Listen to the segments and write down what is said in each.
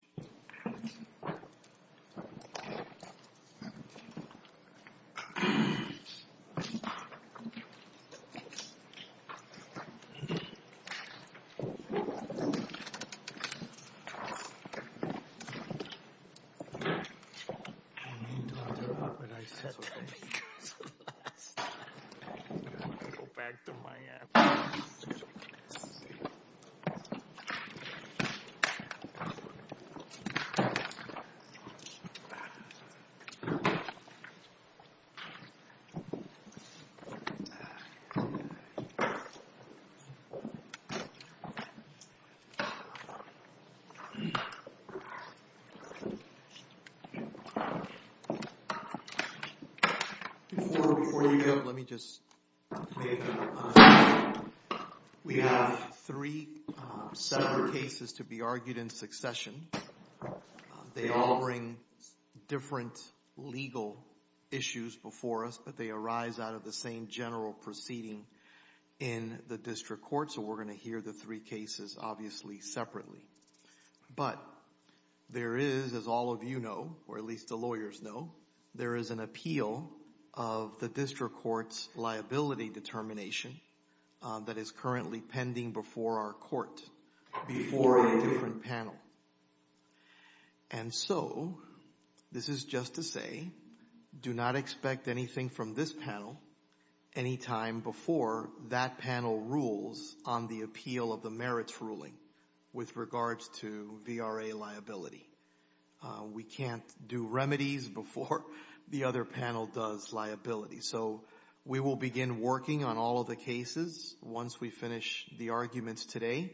I need to interrupt, but I said that because of us. I have to go back to my app. I have to go back to my app. We have three separate cases to be argued in succession. They all bring different legal issues before us, but they arise out of the same general proceeding in the district court. So we're going to hear the three cases, obviously, separately. But there is, as all of you know, or at least the lawyers know, there is an appeal of the district court's liability determination that is currently pending before our court, before a different panel. And so, this is just to say, do not expect anything from this panel anytime before that panel rules on the appeal of the merits ruling with regards to VRA liability. We can't do remedies before the other panel does liability. So, we will begin working on all of the cases once we finish the arguments today.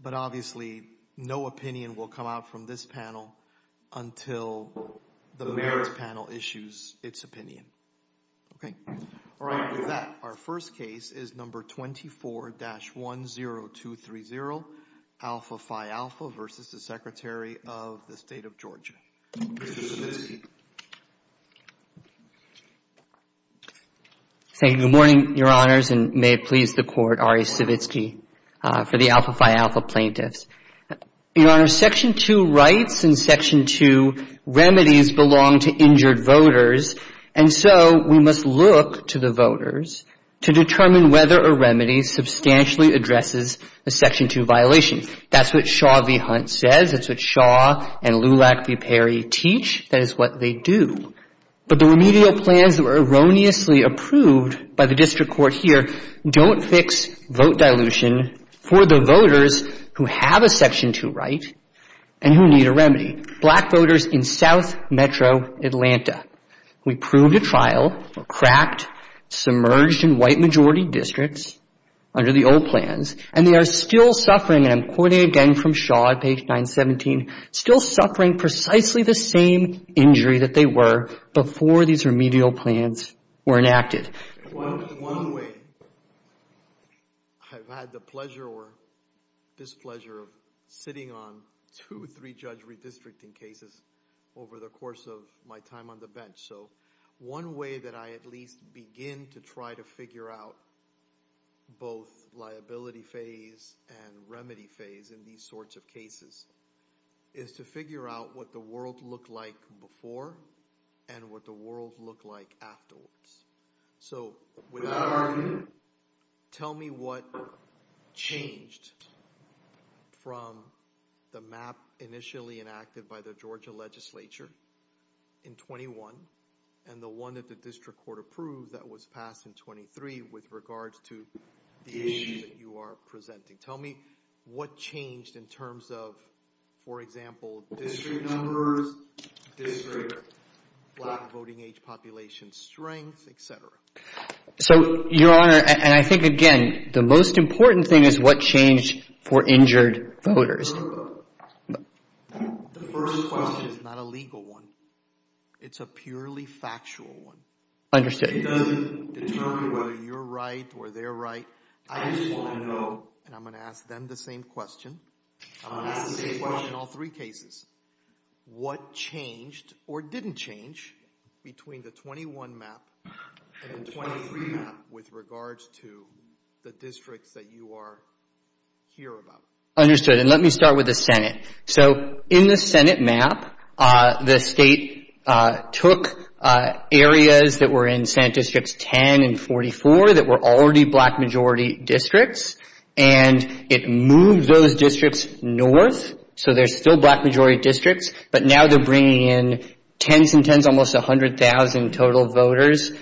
But obviously, no opinion will come out from this panel until the merits panel issues its opinion. Okay. All right. With that, our first case is number 24-10230, Alpha Phi Alpha versus the Secretary of the State of Georgia. Good morning, Your Honors, and may it please the Court, Ari Stavitsky for the Alpha Phi Alpha plaintiffs. Your Honor, Section 2 rights and Section 2 remedies belong to injured voters. And so, we must look to the voters to determine whether a remedy substantially addresses a Section 2 violation. That's what Shaw v. Hunt says. That's what Shaw and Lulak v. Perry teach. That is what they do. But the remedial plans that were erroneously approved by the district court here don't fix vote dilution for the voters who have a Section 2 right and who need a remedy. Black voters in South Metro Atlanta. We proved a trial, cracked, submerged in white-majority districts under the old plans, and they are still suffering, and I'm quoting again from Shaw at page 917, still suffering precisely the same injury that they were before these remedial plans were enacted. One way I've had the pleasure or displeasure of sitting on two or three judge redistricting cases over the course of my time on the bench, so one way that I at least begin to try to figure out both liability phase and remedy phase in these sorts of cases is to figure out what the world looked like before and what the world looked like afterwards. So without argument, tell me what changed from the map initially enacted by the Georgia legislature in 21 and the one that the district court approved that was passed in 23 with regards to the issue that you are presenting. Tell me what changed in terms of, for example, district numbers, district black voting age population strength, etc. So, Your Honor, and I think again, the most important thing is what changed for injured voters. The first question is not a legal one. It's a purely factual one. Understood. It doesn't determine whether you're right or they're right. I just want to know, and I'm going to ask them the same question. I'm going to ask the same question in all three cases. What changed or didn't change between the 21 map and the 23 map with regards to the districts that you are here about? Understood, and let me start with the Senate. So in the Senate map, the state took areas that were in Senate Districts 10 and 44 that were already black majority districts, and it moved those districts north. So they're still black majority districts, but now they're bringing in tens and tens, almost 100,000 total voters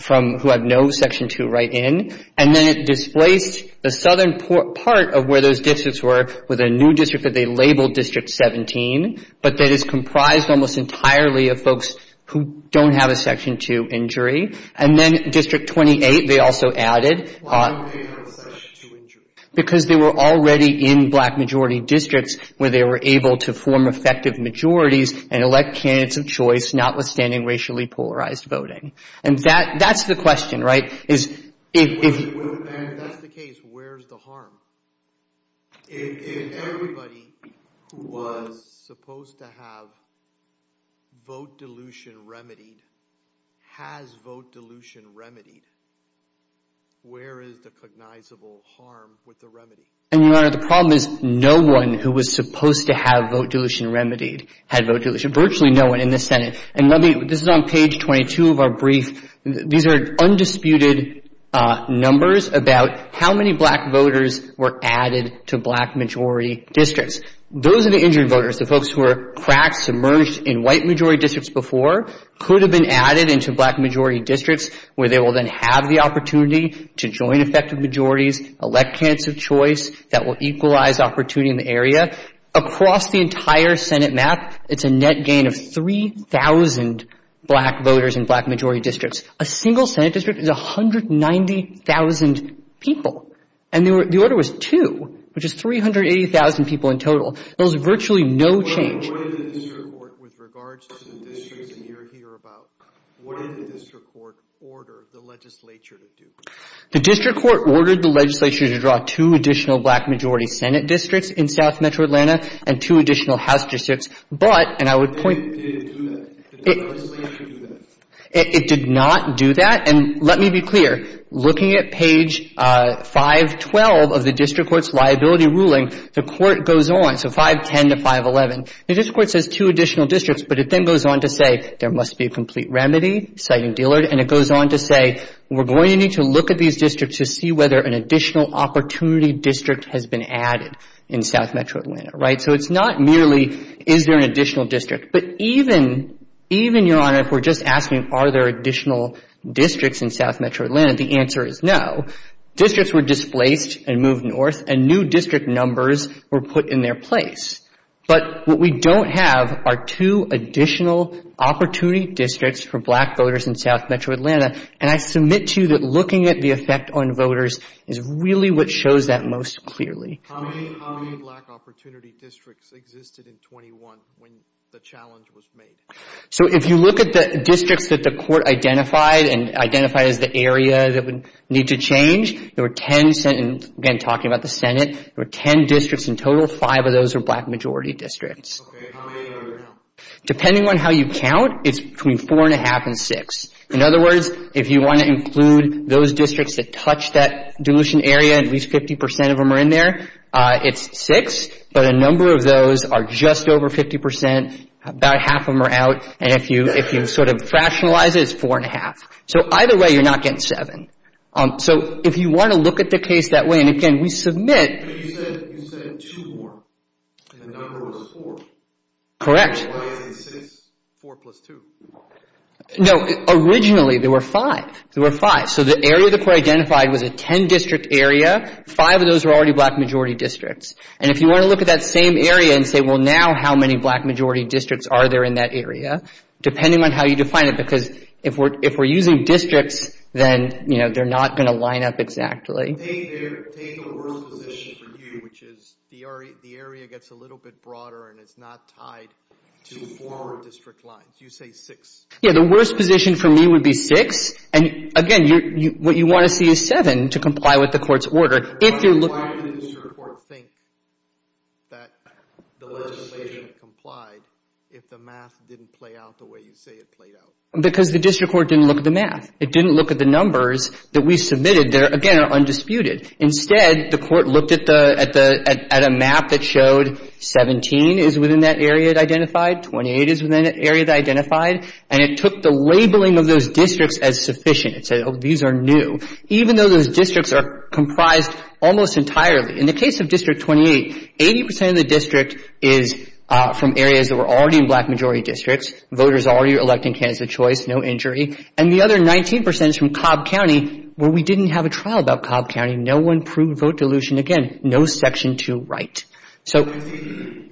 from who have no Section 2 right in. And then it displaced the southern part of where those districts were with a new district that they labeled District 17, but that is comprised almost entirely of folks who don't have a Section 2 injury. And then District 28 they also added. Why didn't they have a Section 2 injury? Because they were already in black majority districts where they were able to form effective majorities and elect candidates of choice notwithstanding racially polarized voting. And that's the question, right? And if that's the case, where's the harm? If everybody who was supposed to have vote dilution remedied has vote dilution remedied, where is the cognizable harm with the remedy? And, Your Honor, the problem is no one who was supposed to have vote dilution remedied had vote dilution. Virtually no one in the Senate. And this is on page 22 of our brief. These are undisputed numbers about how many black voters were added to black majority districts. Those are the injured voters, the folks who were cracked, submerged in white majority districts before, could have been added into black majority districts where they will then have the opportunity to join effective majorities, elect candidates of choice that will equalize opportunity in the area. Across the entire Senate map, it's a net gain of 3,000 black voters in black majority districts. A single Senate district is 190,000 people. And the order was 2, which is 380,000 people in total. There was virtually no change. What did the district court, with regards to the districts that you're here about, what did the district court order the legislature to do? The district court ordered the legislature to draw two additional black majority Senate districts in South Metro Atlanta and two additional House districts. But, and I would point to that, it did not do that. And let me be clear. Looking at page 512 of the district court's liability ruling, the court goes on, so 510 to 511. The district court says two additional districts, but it then goes on to say there must be a complete remedy, citing Dillard. And it goes on to say we're going to need to look at these districts to see whether an additional opportunity district has been added in South Metro Atlanta. Right? So it's not merely is there an additional district. But even, even, Your Honor, if we're just asking are there additional districts in South Metro Atlanta, the answer is no. Districts were displaced and moved north, and new district numbers were put in their place. But what we don't have are two additional opportunity districts for black voters in South Metro Atlanta. And I submit to you that looking at the effect on voters is really what shows that most clearly. How many black opportunity districts existed in 21 when the challenge was made? So if you look at the districts that the court identified and identified as the area that would need to change, there were 10, again talking about the Senate, there were 10 districts in total. Five of those were black majority districts. Okay. How many are there now? Depending on how you count, it's between four and a half and six. In other words, if you want to include those districts that touch that dilution area, at least 50% of them are in there. It's six, but a number of those are just over 50%. About half of them are out. And if you sort of rationalize it, it's four and a half. So either way, you're not getting seven. So if you want to look at the case that way, and, again, we submit. You said two more. The number was four. Correct. Why is it six, four plus two? No, originally there were five. There were five. So the area the court identified was a 10-district area. Five of those were already black majority districts. And if you want to look at that same area and say, well, now how many black majority districts are there in that area, depending on how you define it, because if we're using districts, then they're not going to line up exactly. Take the worst position for you, which is the area gets a little bit broader and it's not tied to four district lines. You say six. Yeah, the worst position for me would be six. And, again, what you want to see is seven to comply with the court's order. Why would the district court think that the legislation complied if the math didn't play out the way you say it played out? Because the district court didn't look at the math. It didn't look at the numbers that we submitted that, again, are undisputed. Instead, the court looked at a map that showed 17 is within that area it identified, 28 is within that area it identified, and it took the labeling of those districts as sufficient. It said, oh, these are new. Even though those districts are comprised almost entirely. In the case of District 28, 80% of the district is from areas that were already in black majority districts. Voters already are electing candidates of choice, no injury. And the other 19% is from Cobb County, where we didn't have a trial about Cobb County. No one proved vote dilution. Again, no Section 2 right. So I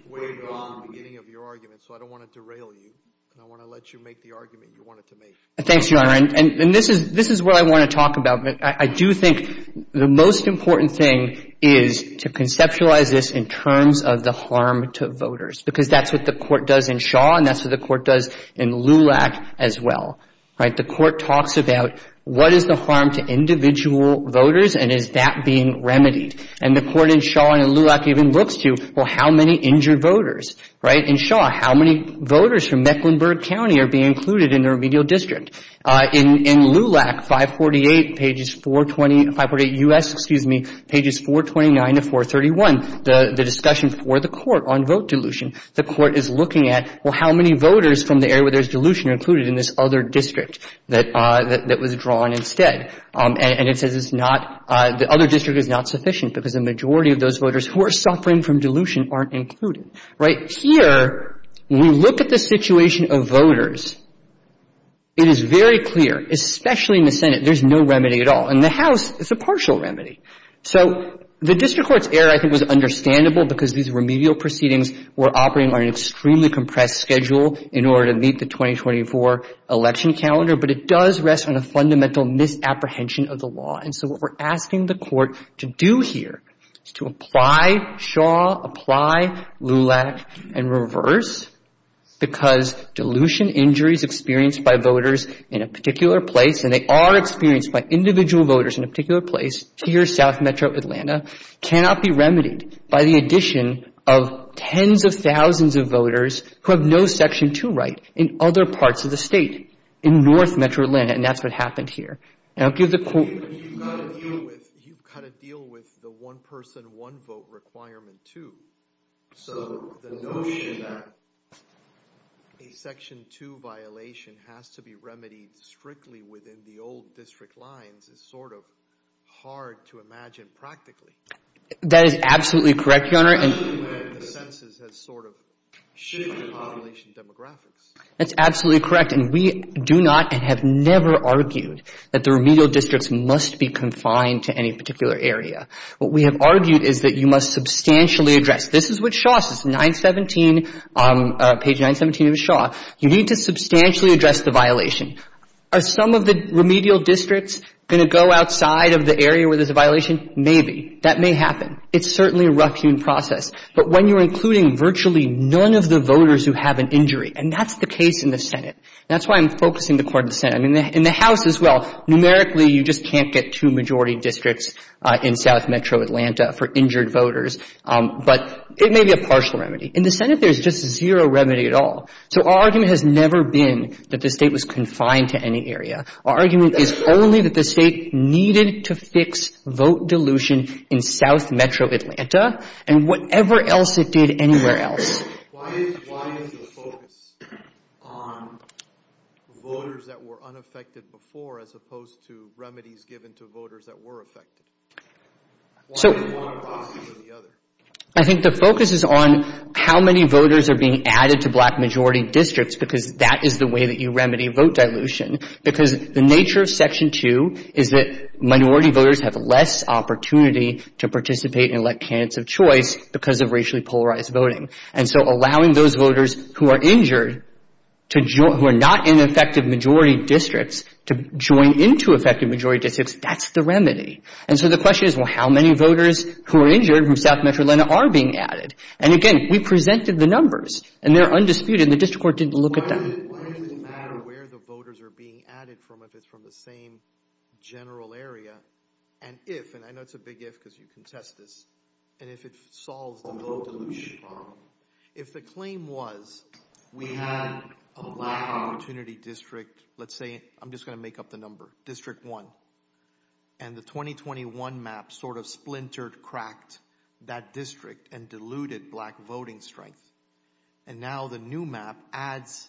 don't want to derail you, and I want to let you make the argument you wanted to make. Thanks, Your Honor. And this is what I want to talk about. I do think the most important thing is to conceptualize this in terms of the harm to voters, because that's what the court does in Shaw, and that's what the court does in LULAC as well. The court talks about what is the harm to individual voters, and is that being remedied? And the court in Shaw and in LULAC even looks to, well, how many injured voters? In Shaw, how many voters from Mecklenburg County are being included in the remedial district? In LULAC, 548 pages 420, 548 U.S., excuse me, pages 429 to 431, the discussion for the court on vote dilution, the court is looking at, well, how many voters from the area where there's dilution are included in this other district that was drawn instead? And it says it's not, the other district is not sufficient because the majority of those voters who are suffering from dilution aren't included. Here, when we look at the situation of voters, it is very clear, especially in the Senate, there's no remedy at all. In the House, it's a partial remedy. So the district court's error, I think, was understandable because these remedial proceedings were operating on an extremely compressed schedule in order to meet the 2024 election calendar, but it does rest on a fundamental misapprehension of the law. And so what we're asking the court to do here is to apply Shaw, apply LULAC, and reverse because dilution injuries experienced by voters in a particular place, and they are experienced by individual voters in a particular place, here, South Metro Atlanta, cannot be remedied by the addition of tens of thousands of voters who have no Section 2 right in other parts of the state, in North Metro Atlanta, and that's what happened here. Now, give the court You've got to deal with the one-person, one-vote requirement, too. So the notion that a Section 2 violation has to be remedied strictly within the old district lines is sort of hard to imagine practically. That is absolutely correct, Your Honor. Especially when the census has sort of shifted population demographics. That's absolutely correct, and we do not and have never argued that the remedial districts must be confined to any particular area. What we have argued is that you must substantially address. This is what Shaw says, page 917 of Shaw. You need to substantially address the violation. Are some of the remedial districts going to go outside of the area where there's a violation? Maybe. That may happen. It's certainly a rough human process. But when you're including virtually none of the voters who have an injury, and that's the case in the Senate. That's why I'm focusing the court in the Senate. In the House as well, numerically, you just can't get two majority districts in South Metro Atlanta for injured voters. But it may be a partial remedy. In the Senate, there's just zero remedy at all. So our argument has never been that the State was confined to any area. Our argument is only that the State needed to fix vote dilution in South Metro Atlanta and whatever else it did anywhere else. Why is the focus on voters that were unaffected before as opposed to remedies given to voters that were affected? One or the other? I think the focus is on how many voters are being added to black majority districts because that is the way that you remedy vote dilution. Because the nature of Section 2 is that minority voters have less opportunity to participate and elect candidates of choice because of racially polarized voting. And so allowing those voters who are injured to join, who are not in affected majority districts, to join into affected majority districts, that's the remedy. And so the question is, well, how many voters who are injured from South Metro Atlanta are being added? And, again, we presented the numbers, and they're undisputed, and the district court didn't look at them. Why does it matter where the voters are being added from if it's from the same general area? And if, and I know it's a big if because you contest this, and if it solves the vote dilution problem. If the claim was we had a black opportunity district, let's say, I'm just going to make up the number, District 1. And the 2021 map sort of splintered, cracked that district and diluted black voting strength. And now the new map adds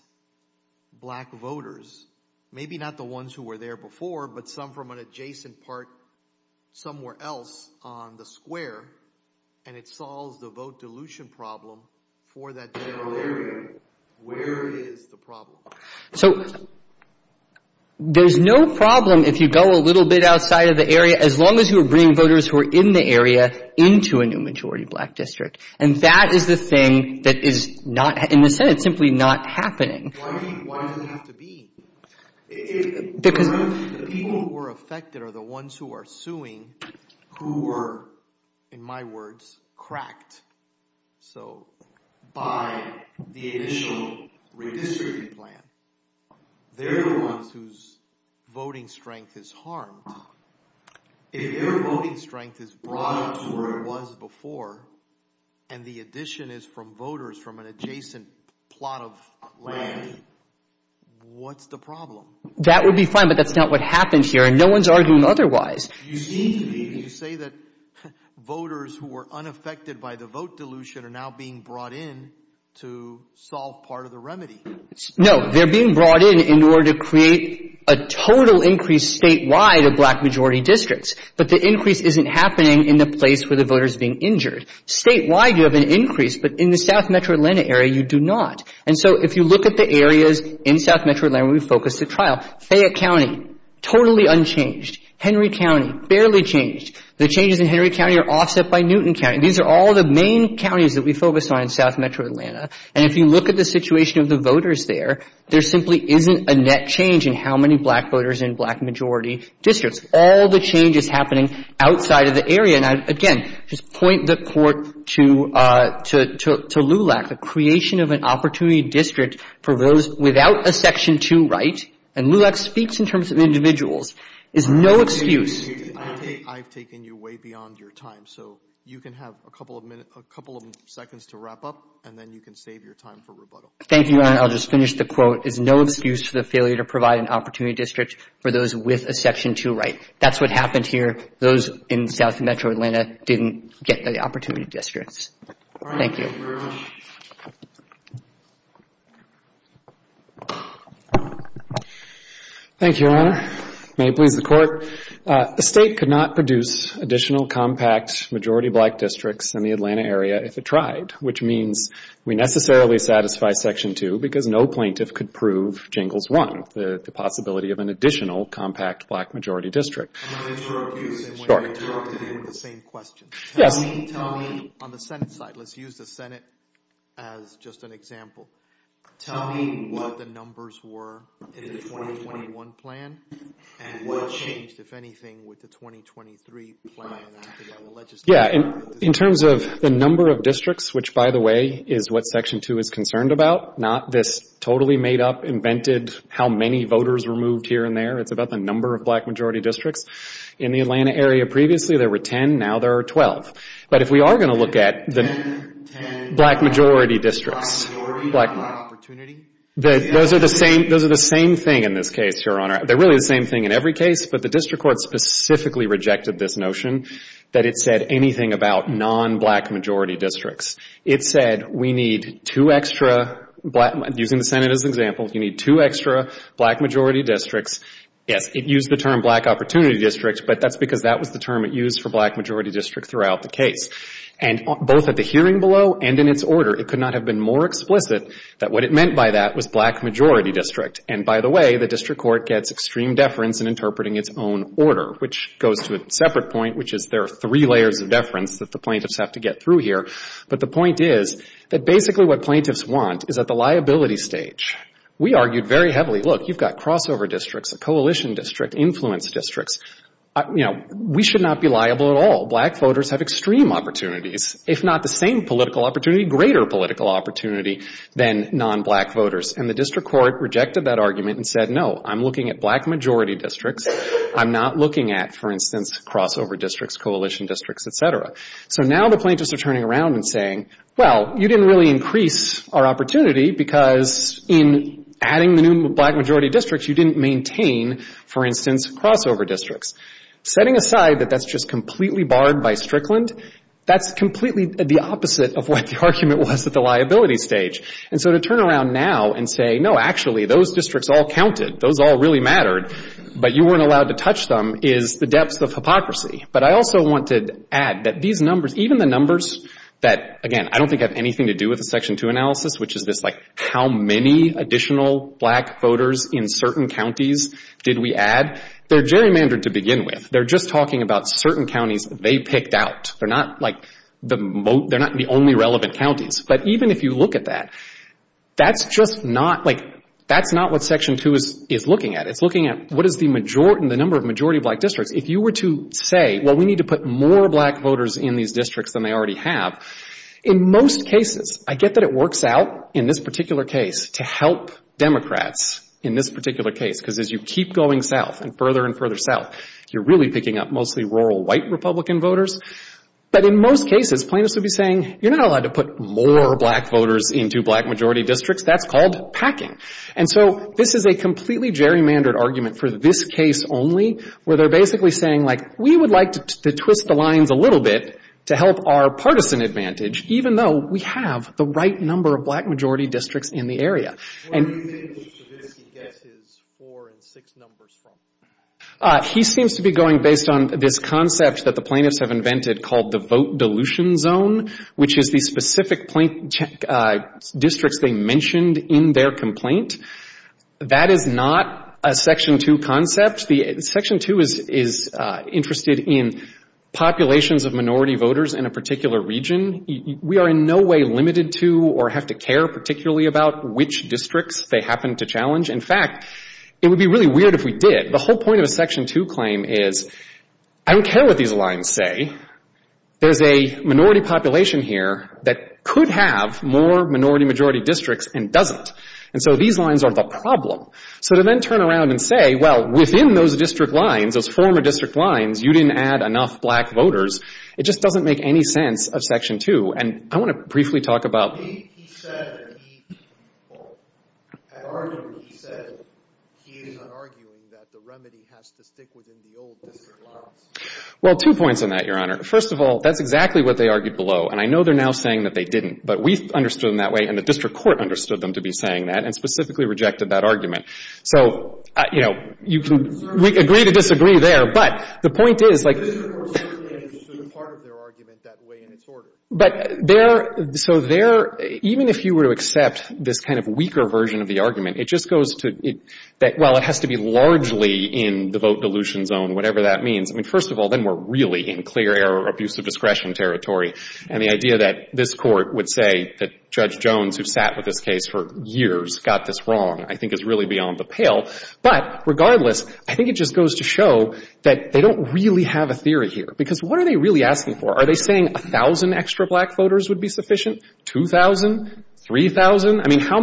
black voters, maybe not the ones who were there before, but some from an adjacent part somewhere else on the square. And it solves the vote dilution problem for that general area. Where is the problem? So there's no problem if you go a little bit outside of the area, as long as you bring voters who are in the area into a new majority black district. And that is the thing that is not, in a sense, it's simply not happening. Why does it have to be? Because the people who are affected are the ones who are suing who were, in my words, cracked. So by the initial redistricting plan, they're the ones whose voting strength is harmed. If your voting strength is brought up to where it was before, and the addition is from voters from an adjacent plot of land, what's the problem? That would be fine, but that's not what happened here. And no one's arguing otherwise. You seem to me to say that voters who were unaffected by the vote dilution are now being brought in to solve part of the remedy. No. They're being brought in in order to create a total increase statewide of black majority districts. But the increase isn't happening in the place where the voter's being injured. Statewide, you have an increase, but in the South Metro Atlanta area, you do not. And so if you look at the areas in South Metro Atlanta where we focus the trial, Fayette County, totally unchanged. Henry County, barely changed. The changes in Henry County are offset by Newton County. These are all the main counties that we focus on in South Metro Atlanta. And if you look at the situation of the voters there, there simply isn't a net change in how many black voters in black majority districts. All the change is happening outside of the area. And I, again, just point the court to LULAC, the creation of an opportunity district for those without a Section 2 right, and LULAC speaks in terms of individuals, is no excuse. I've taken you way beyond your time. So you can have a couple of seconds to wrap up, and then you can save your time for rebuttal. Thank you, Your Honor. I'll just finish the quote. It's no excuse for the failure to provide an opportunity district for those with a Section 2 right. That's what happened here. Those in South Metro Atlanta didn't get the opportunity districts. Thank you. Thank you, Your Honor. May it please the Court. The state could not produce additional compact majority black districts in the Atlanta area if it tried, which means we necessarily satisfy Section 2 because no plaintiff could prove Jingles 1, the possibility of an additional compact black majority district. I'm going to interrupt you, since you're interrupting me with the same question. Yes. Tell me, on the Senate side, let's use the Senate as just an example. Tell me what the numbers were in the 2021 plan, and what changed, if anything, with the 2023 plan. In terms of the number of districts, which, by the way, is what Section 2 is concerned about, not this totally made up, invented, how many voters were moved here and there. It's about the number of black majority districts. In the Atlanta area previously, there were 10. Now there are 12. But if we are going to look at the black majority districts, those are the same thing in this case, Your Honor. They're really the same thing in every case, but the district court specifically rejected this notion that it said anything about nonblack majority districts. It said we need two extra, using the Senate as an example, you need two extra black majority districts. Yes, it used the term black opportunity districts, but that's because that was the term it used for black majority districts throughout the case. And both at the hearing below and in its order, it could not have been more explicit that what it meant by that was black majority district. And by the way, the district court gets extreme deference in interpreting its own order, which goes to a separate point, which is there are three layers of deference that the plaintiffs have to get through here. But the point is that basically what plaintiffs want is at the liability stage. We argued very heavily, look, you've got crossover districts, a coalition district, influence districts. You know, we should not be liable at all. Black voters have extreme opportunities, if not the same political opportunity, greater political opportunity than nonblack voters. And the district court rejected that argument and said, no, I'm looking at black majority districts. I'm not looking at, for instance, crossover districts, coalition districts, et cetera. So now the plaintiffs are turning around and saying, well, you didn't really increase our opportunity because in adding the new black majority districts, you didn't maintain, for instance, crossover districts. Setting aside that that's just completely barred by Strickland, that's completely the opposite of what the argument was at the liability stage. And so to turn around now and say, no, actually, those districts all counted, those all really mattered, but you weren't allowed to touch them, is the depth of hypocrisy. But I also want to add that these numbers, even the numbers that, again, I don't think have anything to do with the Section 2 analysis, which is this, like, how many additional black voters in certain counties did we add? They're gerrymandered to begin with. They're just talking about certain counties they picked out. They're not, like, the only relevant counties. But even if you look at that, that's just not, like, that's not what Section 2 is looking at. It's looking at what is the majority, the number of majority black districts. If you were to say, well, we need to put more black voters in these districts than they already have, in most cases, I get that it works out in this particular case to help Democrats in this particular case, because as you keep going south and further and further south, you're really picking up mostly rural white Republican voters. But in most cases, plaintiffs would be saying, you're not allowed to put more black voters into black majority districts. That's called packing. And so this is a completely gerrymandered argument for this case only, where they're basically saying, like, we would like to twist the lines a little bit to help our partisan advantage, even though we have the right number of black majority districts in the area. What do you make of Stravinsky's guesses four and six numbers from that? He seems to be going based on this concept that the plaintiffs have invented called the vote dilution zone, which is the specific districts they mentioned in their complaint. That is not a Section 2 concept. As such, the Section 2 is interested in populations of minority voters in a particular region. We are in no way limited to or have to care particularly about which districts they happen to challenge. In fact, it would be really weird if we did. The whole point of a Section 2 claim is I don't care what these lines say. There's a minority population here that could have more minority majority districts and doesn't. And so these lines are the problem. So to then turn around and say, well, within those district lines, those former district lines, you didn't add enough black voters, it just doesn't make any sense of Section 2. And I want to briefly talk about — He said that he — at argument, he said he is arguing that the remedy has to stick within the old district lines. Well, two points on that, Your Honor. First of all, that's exactly what they argued below. And I know they're now saying that they didn't. But we understood them that way, and the district court understood them to be saying that and specifically rejected that argument. So, you know, you can agree to disagree there. But the point is, like — The district court certainly understood part of their argument that way in its order. But there — so there — even if you were to accept this kind of weaker version of the argument, it just goes to — well, it has to be largely in the vote dilution zone, whatever that means. I mean, first of all, then we're really in clear error or abuse of discretion territory. And the idea that this Court would say that Judge Jones, who sat with this case for years, got this wrong, I think is really beyond the pale. But regardless, I think it just goes to show that they don't really have a theory here. Because what are they really asking for? Are they saying 1,000 extra black voters would be sufficient? 2,000? 3,000? I mean, how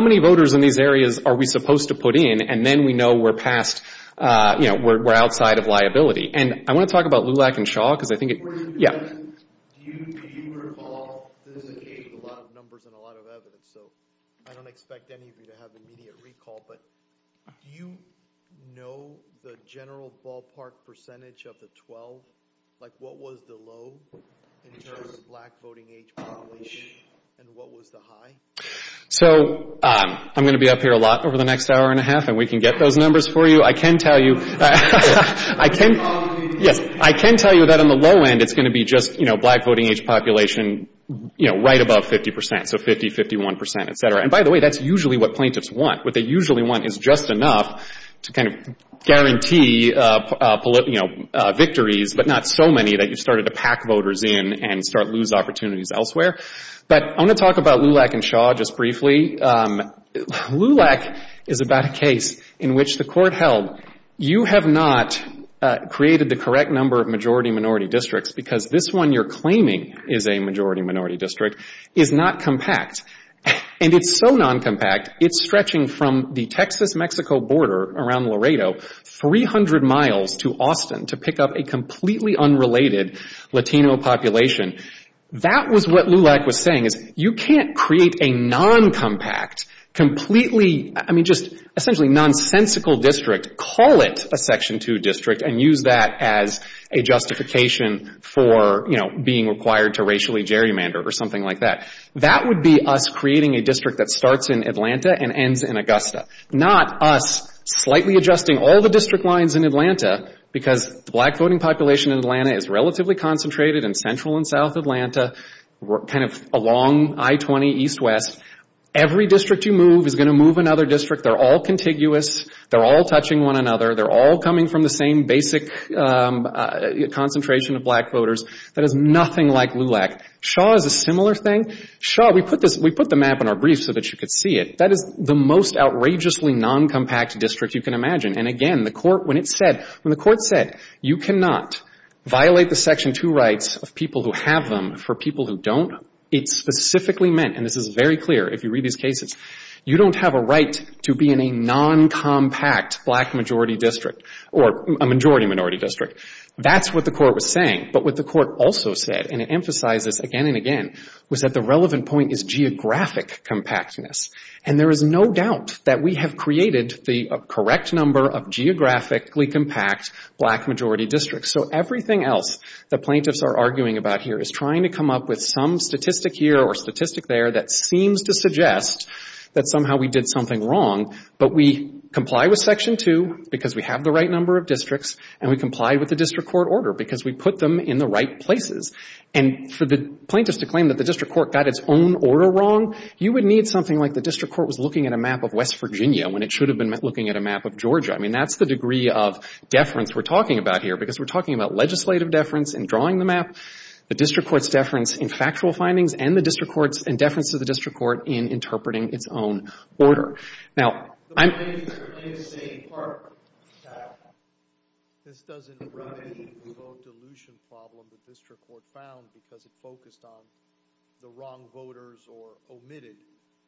many voters in these areas are we supposed to put in, and then we know we're past — you know, we're outside of liability? And I want to talk about Lulac and Shaw, because I think it — Yeah. Do you recall — this is a case with a lot of numbers and a lot of evidence, so I don't expect any of you to have immediate recall, but do you know the general ballpark percentage of the 12? Like, what was the low in terms of black voting age population, and what was the high? So I'm going to be up here a lot over the next hour and a half, and we can get those numbers for you. I can tell you — Yes. I can tell you that on the low end, it's going to be just, you know, black voting age population, you know, right above 50 percent, so 50, 51 percent, et cetera. And by the way, that's usually what plaintiffs want. What they usually want is just enough to kind of guarantee, you know, victories, but not so many that you started to pack voters in and start to lose opportunities elsewhere. But I'm going to talk about Lulac and Shaw just briefly. Lulac is about a case in which the court held, you have not created the correct number of majority-minority districts because this one you're claiming is a majority-minority district is not compact. And it's so non-compact, it's stretching from the Texas-Mexico border around Laredo, 300 miles to Austin to pick up a completely unrelated Latino population. That was what Lulac was saying, is you can't create a non-compact, completely — I mean, just essentially nonsensical district, call it a Section 2 district, and use that as a justification for, you know, being required to racially gerrymander or something like that. That would be us creating a district that starts in Atlanta and ends in Augusta, not us slightly adjusting all the district lines in Atlanta because the black voting population in Atlanta is relatively concentrated in central and south Atlanta, kind of along I-20 east-west. Every district you move is going to move another district. They're all contiguous. They're all touching one another. They're all coming from the same basic concentration of black voters. That is nothing like Lulac. Shaw is a similar thing. Shaw, we put the map in our brief so that you could see it. That is the most outrageously non-compact district you can imagine. And, again, the Court, when it said, when the Court said you cannot violate the Section 2 rights of people who have them for people who don't, it specifically meant, and this is very clear if you read these cases, you don't have a right to be in a non-compact black majority district or a majority-minority district. That's what the Court was saying. But what the Court also said, and it emphasizes again and again, was that the relevant point is geographic compactness. And there is no doubt that we have created the correct number of geographically compact black-majority districts. So everything else the plaintiffs are arguing about here is trying to come up with some statistic here or statistic there that seems to suggest that somehow we did something wrong, but we comply with Section 2 because we have the right number of districts, and we comply with the district court order because we put them in the right places. And for the plaintiffs to claim that the district court got its own order wrong, you would need something like the district court was looking at a map of West Virginia when it should have been looking at a map of Georgia. I mean, that's the degree of deference we're talking about here because we're talking about legislative deference in drawing the map, the district court's deference in factual findings, and the district court's deference to the district court in interpreting its own order. Now, I'm... The plaintiffs are saying part of it. This doesn't run into the vote dilution problem the district court found because it focused on the wrong voters or omitted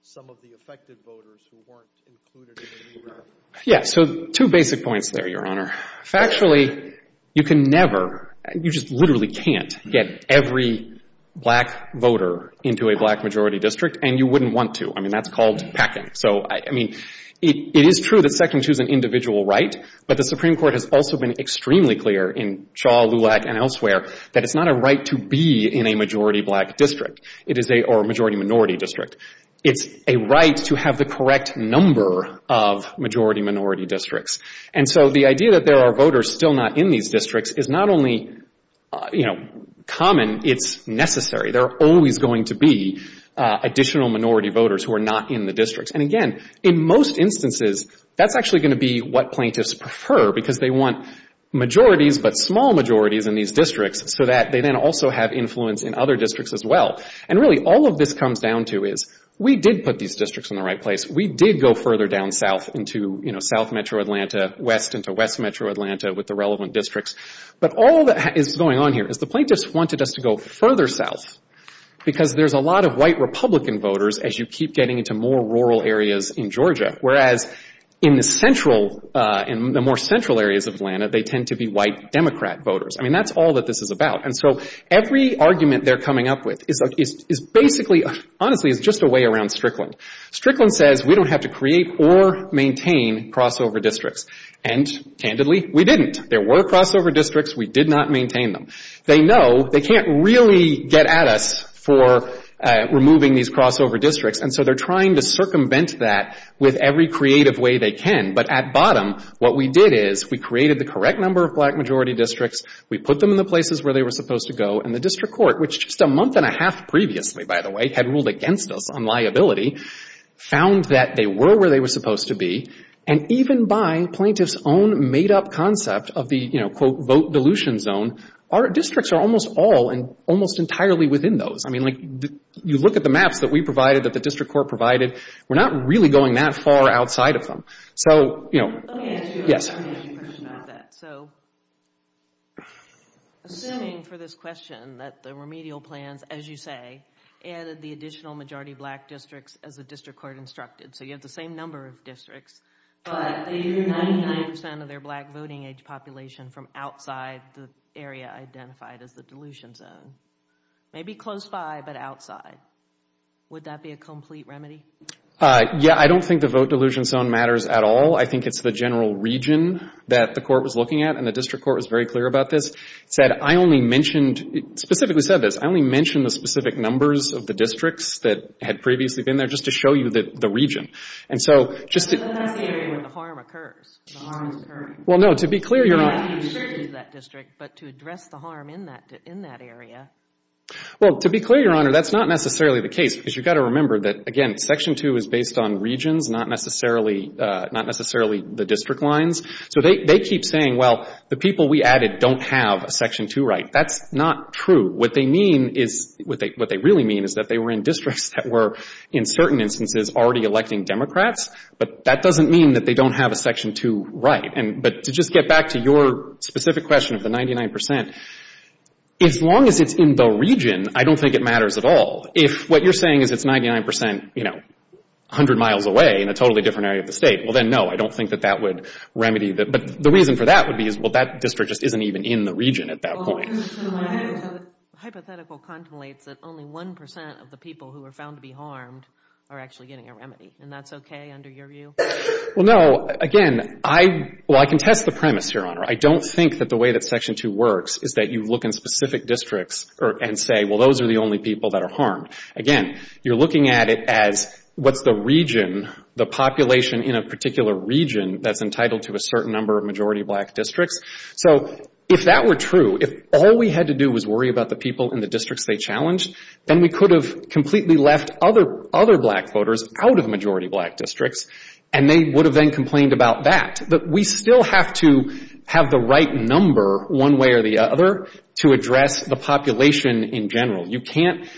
some of the affected voters who weren't included in the neighborhood. Yeah. So two basic points there, Your Honor. Factually, you can never, you just literally can't, get every black voter into a black-majority district, and you wouldn't want to. I mean, that's called packing. So, I mean, it is true that second choose an individual right, but the Supreme Court has also been extremely clear in Shaw, Lulac, and elsewhere that it's not a right to be in a majority-black district, or a majority-minority district. It's a right to have the correct number of majority-minority districts. And so the idea that there are voters still not in these districts is not only, you know, common, it's necessary. There are always going to be additional minority voters who are not in the districts. And again, in most instances, that's actually going to be what plaintiffs prefer because they want majorities but small majorities in these districts so that they then also have influence in other districts as well. And really, all of this comes down to is we did put these districts in the right place. We did go further down south into, you know, south metro Atlanta, west into west metro Atlanta with the relevant districts. But all that is going on here is the plaintiffs wanted us to go further south because there's a lot of white Republican voters as you keep getting into more rural areas in Georgia, whereas in the central, in the more central areas of Atlanta, they tend to be white Democrat voters. I mean, that's all that this is about. And so every argument they're coming up with is basically, honestly, is just a way around Strickland. Strickland says we don't have to create or maintain crossover districts. And, candidly, we didn't. There were crossover districts. We did not maintain them. They know they can't really get at us for removing these crossover districts. And so they're trying to circumvent that with every creative way they can. But at bottom, what we did is we created the correct number of black majority districts. We put them in the places where they were supposed to go. And the district court, which just a month and a half previously, by the way, had ruled against us on liability, found that they were where they were supposed to be. And even by plaintiffs' own made-up concept of the, you know, vote dilution zone, our districts are almost all and almost entirely within those. I mean, like, you look at the maps that we provided, that the district court provided, we're not really going that far outside of them. So, you know. Let me ask you a question about that. So, assuming for this question that the remedial plans, as you say, added the additional majority black districts as the district court instructed, so you have the same number of districts, but they drew 99 percent of their black voting age population from outside the area identified as the dilution zone. Maybe close by, but outside. Would that be a complete remedy? Yeah. I don't think the vote dilution zone matters at all. I think it's the general region that the court was looking at, and the district court was very clear about this. It said, I only mentioned, specifically said this, I only mentioned the specific numbers of the districts that had previously been there just to show you the region. And so, just to But that's the area where the harm occurs. The harm is occurring. Well, no. To be clear, Your Honor. You're not taking a surgeon to that district, but to address the harm in that area. Well, to be clear, Your Honor, that's not necessarily the case, because you've got to remember that, again, Section 2 is based on regions, not necessarily the district lines. So they keep saying, well, the people we added don't have a Section 2 right. That's not true. What they mean is, what they really mean is that they were in districts that were, in certain instances, already electing Democrats, but that doesn't mean that they don't have a Section 2 right. But to just get back to your specific question of the 99%, as long as it's in the region, I don't think it matters at all. If what you're saying is it's 99%, you know, 100 miles away in a totally different area of the state, well, then, no, I don't think that that would remedy the But the reason for that would be, well, that district just isn't even in the region at that point. The hypothetical contemplates that only 1% of the people who are found to be harmed are actually getting a remedy, and that's okay under your view? Well, no. Again, I can test the premise, Your Honor. I don't think that the way that Section 2 works is that you look in specific districts and say, well, those are the only people that are harmed. Again, you're looking at it as what's the region, the population in a particular region that's entitled to a certain number of majority black districts. So if that were true, if all we had to do was worry about the people in the districts they challenged, then we could have completely left other black voters out of majority black districts, and they would have then complained about that. But we still have to have the right number, one way or the other, to address the population in general. You can't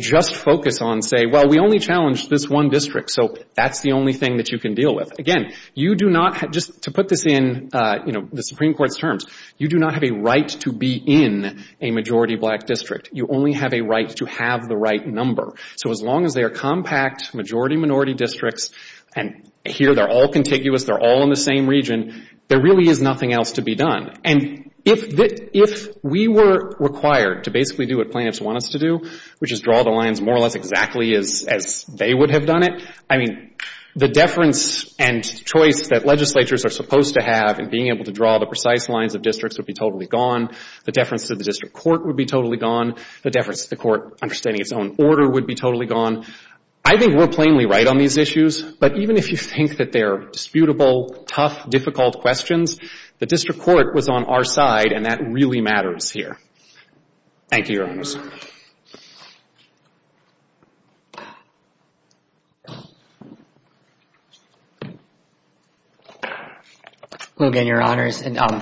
just focus on, say, well, we only challenged this one district, so that's the only thing that you can deal with. Again, you do not have, just to put this in the Supreme Court's terms, you do not have a right to be in a majority black district. You only have a right to have the right number. So as long as they are compact majority minority districts, and here they're all contiguous, they're all in the same region, there really is nothing else to be done. And if we were required to basically do what plaintiffs want us to do, which is draw the lines more or less exactly as they would have done it, I mean, the deference and choice that legislatures are supposed to have in being able to draw the precise lines of districts would be totally gone. The deference to the district court would be totally gone. The deference to the court understanding its own order would be totally gone. I think we're plainly right on these issues, but even if you think that they're disputable, tough, difficult questions, the district court was on our side, and that really matters here. Thank you, Your Honors. Logan, Your Honors, and I'm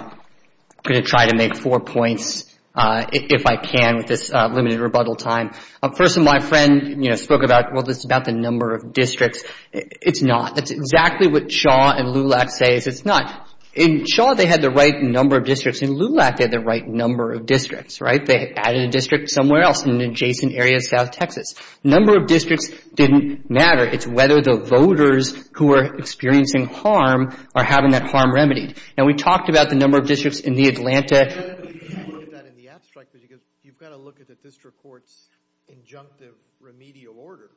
going to try to make four points if I can with this limited rebuttal time. First, my friend spoke about, well, this is about the number of districts. It's not. It's exactly what Shaw and Lulak say. It's not. In Shaw, they had the right number of districts. In Lulak, they had the right number of districts, right? They added a district somewhere else in an adjacent area of south Texas. The number of districts didn't matter. It's whether the voters who are experiencing harm are having that harm remedied. Now, we talked about the number of districts in the Atlanta. You said that you looked at that in the abstract, but you've got to look at the district court's injunctive remedial order.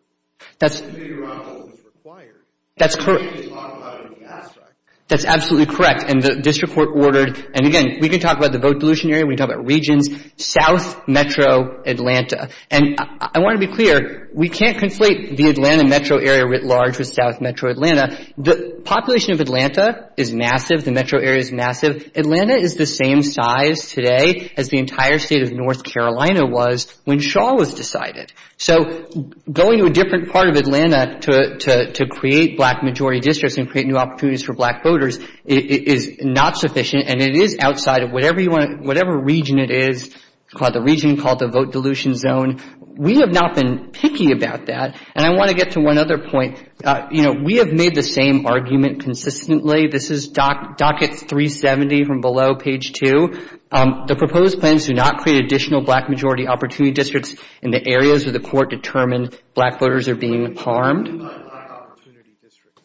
That's— The remedial order was required. That's correct. You didn't talk about it in the abstract. That's absolutely correct, and the district court ordered— and, again, we can talk about the vote dilution area. We can talk about regions. South metro Atlanta. And I want to be clear. We can't conflate the Atlanta metro area writ large with south metro Atlanta. The population of Atlanta is massive. The metro area is massive. Atlanta is the same size today as the entire state of North Carolina was when Shaw was decided. So going to a different part of Atlanta to create black majority districts and create new opportunities for black voters is not sufficient, and it is outside of whatever region it is, the region called the vote dilution zone. We have not been picky about that. And I want to get to one other point. You know, we have made the same argument consistently. This is docket 370 from below, page 2. The proposed plans do not create additional black majority opportunity districts in the areas where the court determined black voters are being harmed. What do you mean by black opportunity districts?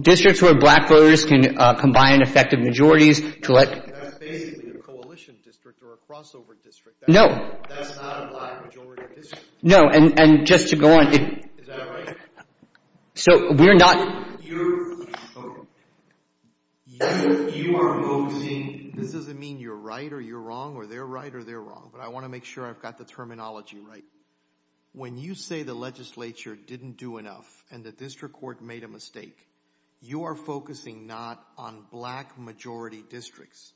Districts where black voters can combine effective majorities to let That's basically a coalition district or a crossover district. No. That's not a black majority district. No, and just to go on. Is that right? So we're not You are voting. This doesn't mean you're right or you're wrong or they're right or they're wrong, but I want to make sure I've got the terminology right. When you say the legislature didn't do enough and the district court made a mistake, you are focusing not on black majority districts.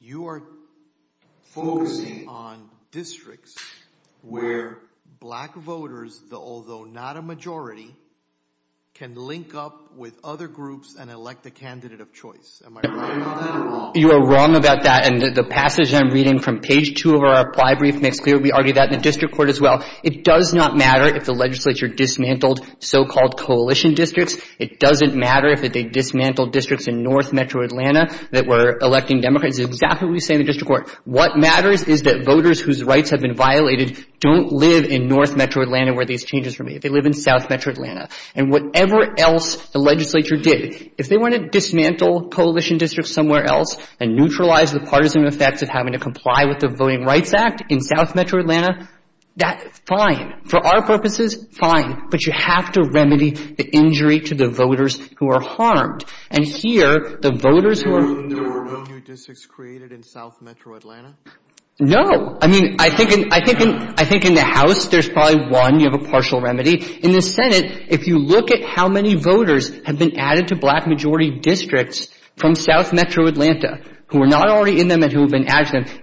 You are focusing on districts where black voters, although not a majority, can link up with other groups and elect a candidate of choice. Am I right or wrong? You are wrong about that, and the passage I'm reading from page 2 of our apply brief makes clear we argue that in the district court as well. It does not matter if the legislature dismantled so-called coalition districts. It doesn't matter if they dismantled districts in North Metro Atlanta that were electing Democrats. It's exactly what we say in the district court. What matters is that voters whose rights have been violated don't live in North Metro Atlanta where these changes were made. They live in South Metro Atlanta. And whatever else the legislature did, if they want to dismantle coalition districts somewhere else and neutralize the partisan effects of having to comply with the Voting Rights Act in South Metro Atlanta, that's fine. For our purposes, fine. But you have to remedy the injury to the voters who are harmed. And here, the voters who are There were no new districts created in South Metro Atlanta? No. I mean, I think in the House there's probably one. You have a partial remedy. In the Senate, if you look at how many voters have been added to black majority districts from South Metro Atlanta who are not already in them and who have been added to them,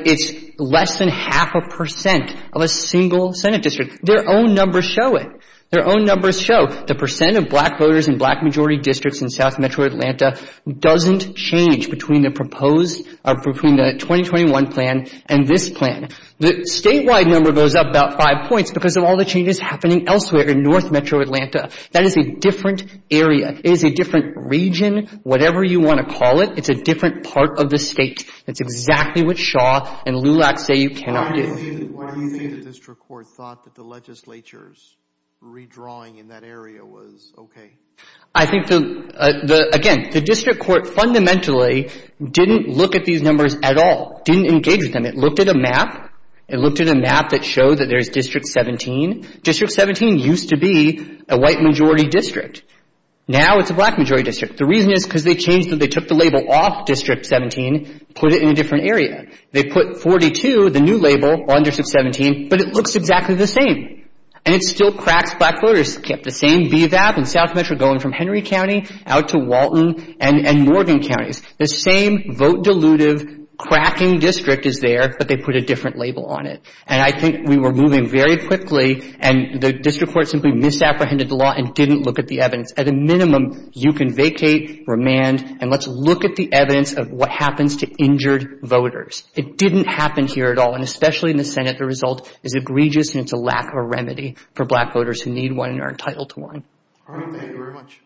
it's less than half a percent of a single Senate district. Their own numbers show it. Their own numbers show the percent of black voters in black majority districts in South Metro Atlanta doesn't change between the proposed between the 2021 plan and this plan. The statewide number goes up about five points because of all the changes happening elsewhere in North Metro Atlanta. That is a different area. It is a different region, whatever you want to call it. It's a different part of the state. That's exactly what Shaw and Lulak say you cannot do. Why do you think the district court thought that the legislature's redrawing in that area was okay? I think, again, the district court fundamentally didn't look at these numbers at all, didn't engage with them. It looked at a map. It looked at a map that showed that there's District 17. District 17 used to be a white majority district. Now it's a black majority district. The reason is because they changed it. They took the label off District 17, put it in a different area. They put 42, the new label, on District 17, but it looks exactly the same. And it still cracks black voters. The same VVAP in South Metro going from Henry County out to Walton and Morgan counties. The same vote dilutive cracking district is there, but they put a different label on it. And I think we were moving very quickly, and the district court simply misapprehended the law and didn't look at the evidence. At a minimum, you can vacate, remand, and let's look at the evidence of what happens to injured voters. It didn't happen here at all, and especially in the Senate, the result is egregious and it's a lack of a remedy for black voters who need one and are entitled to one. Thank you very much.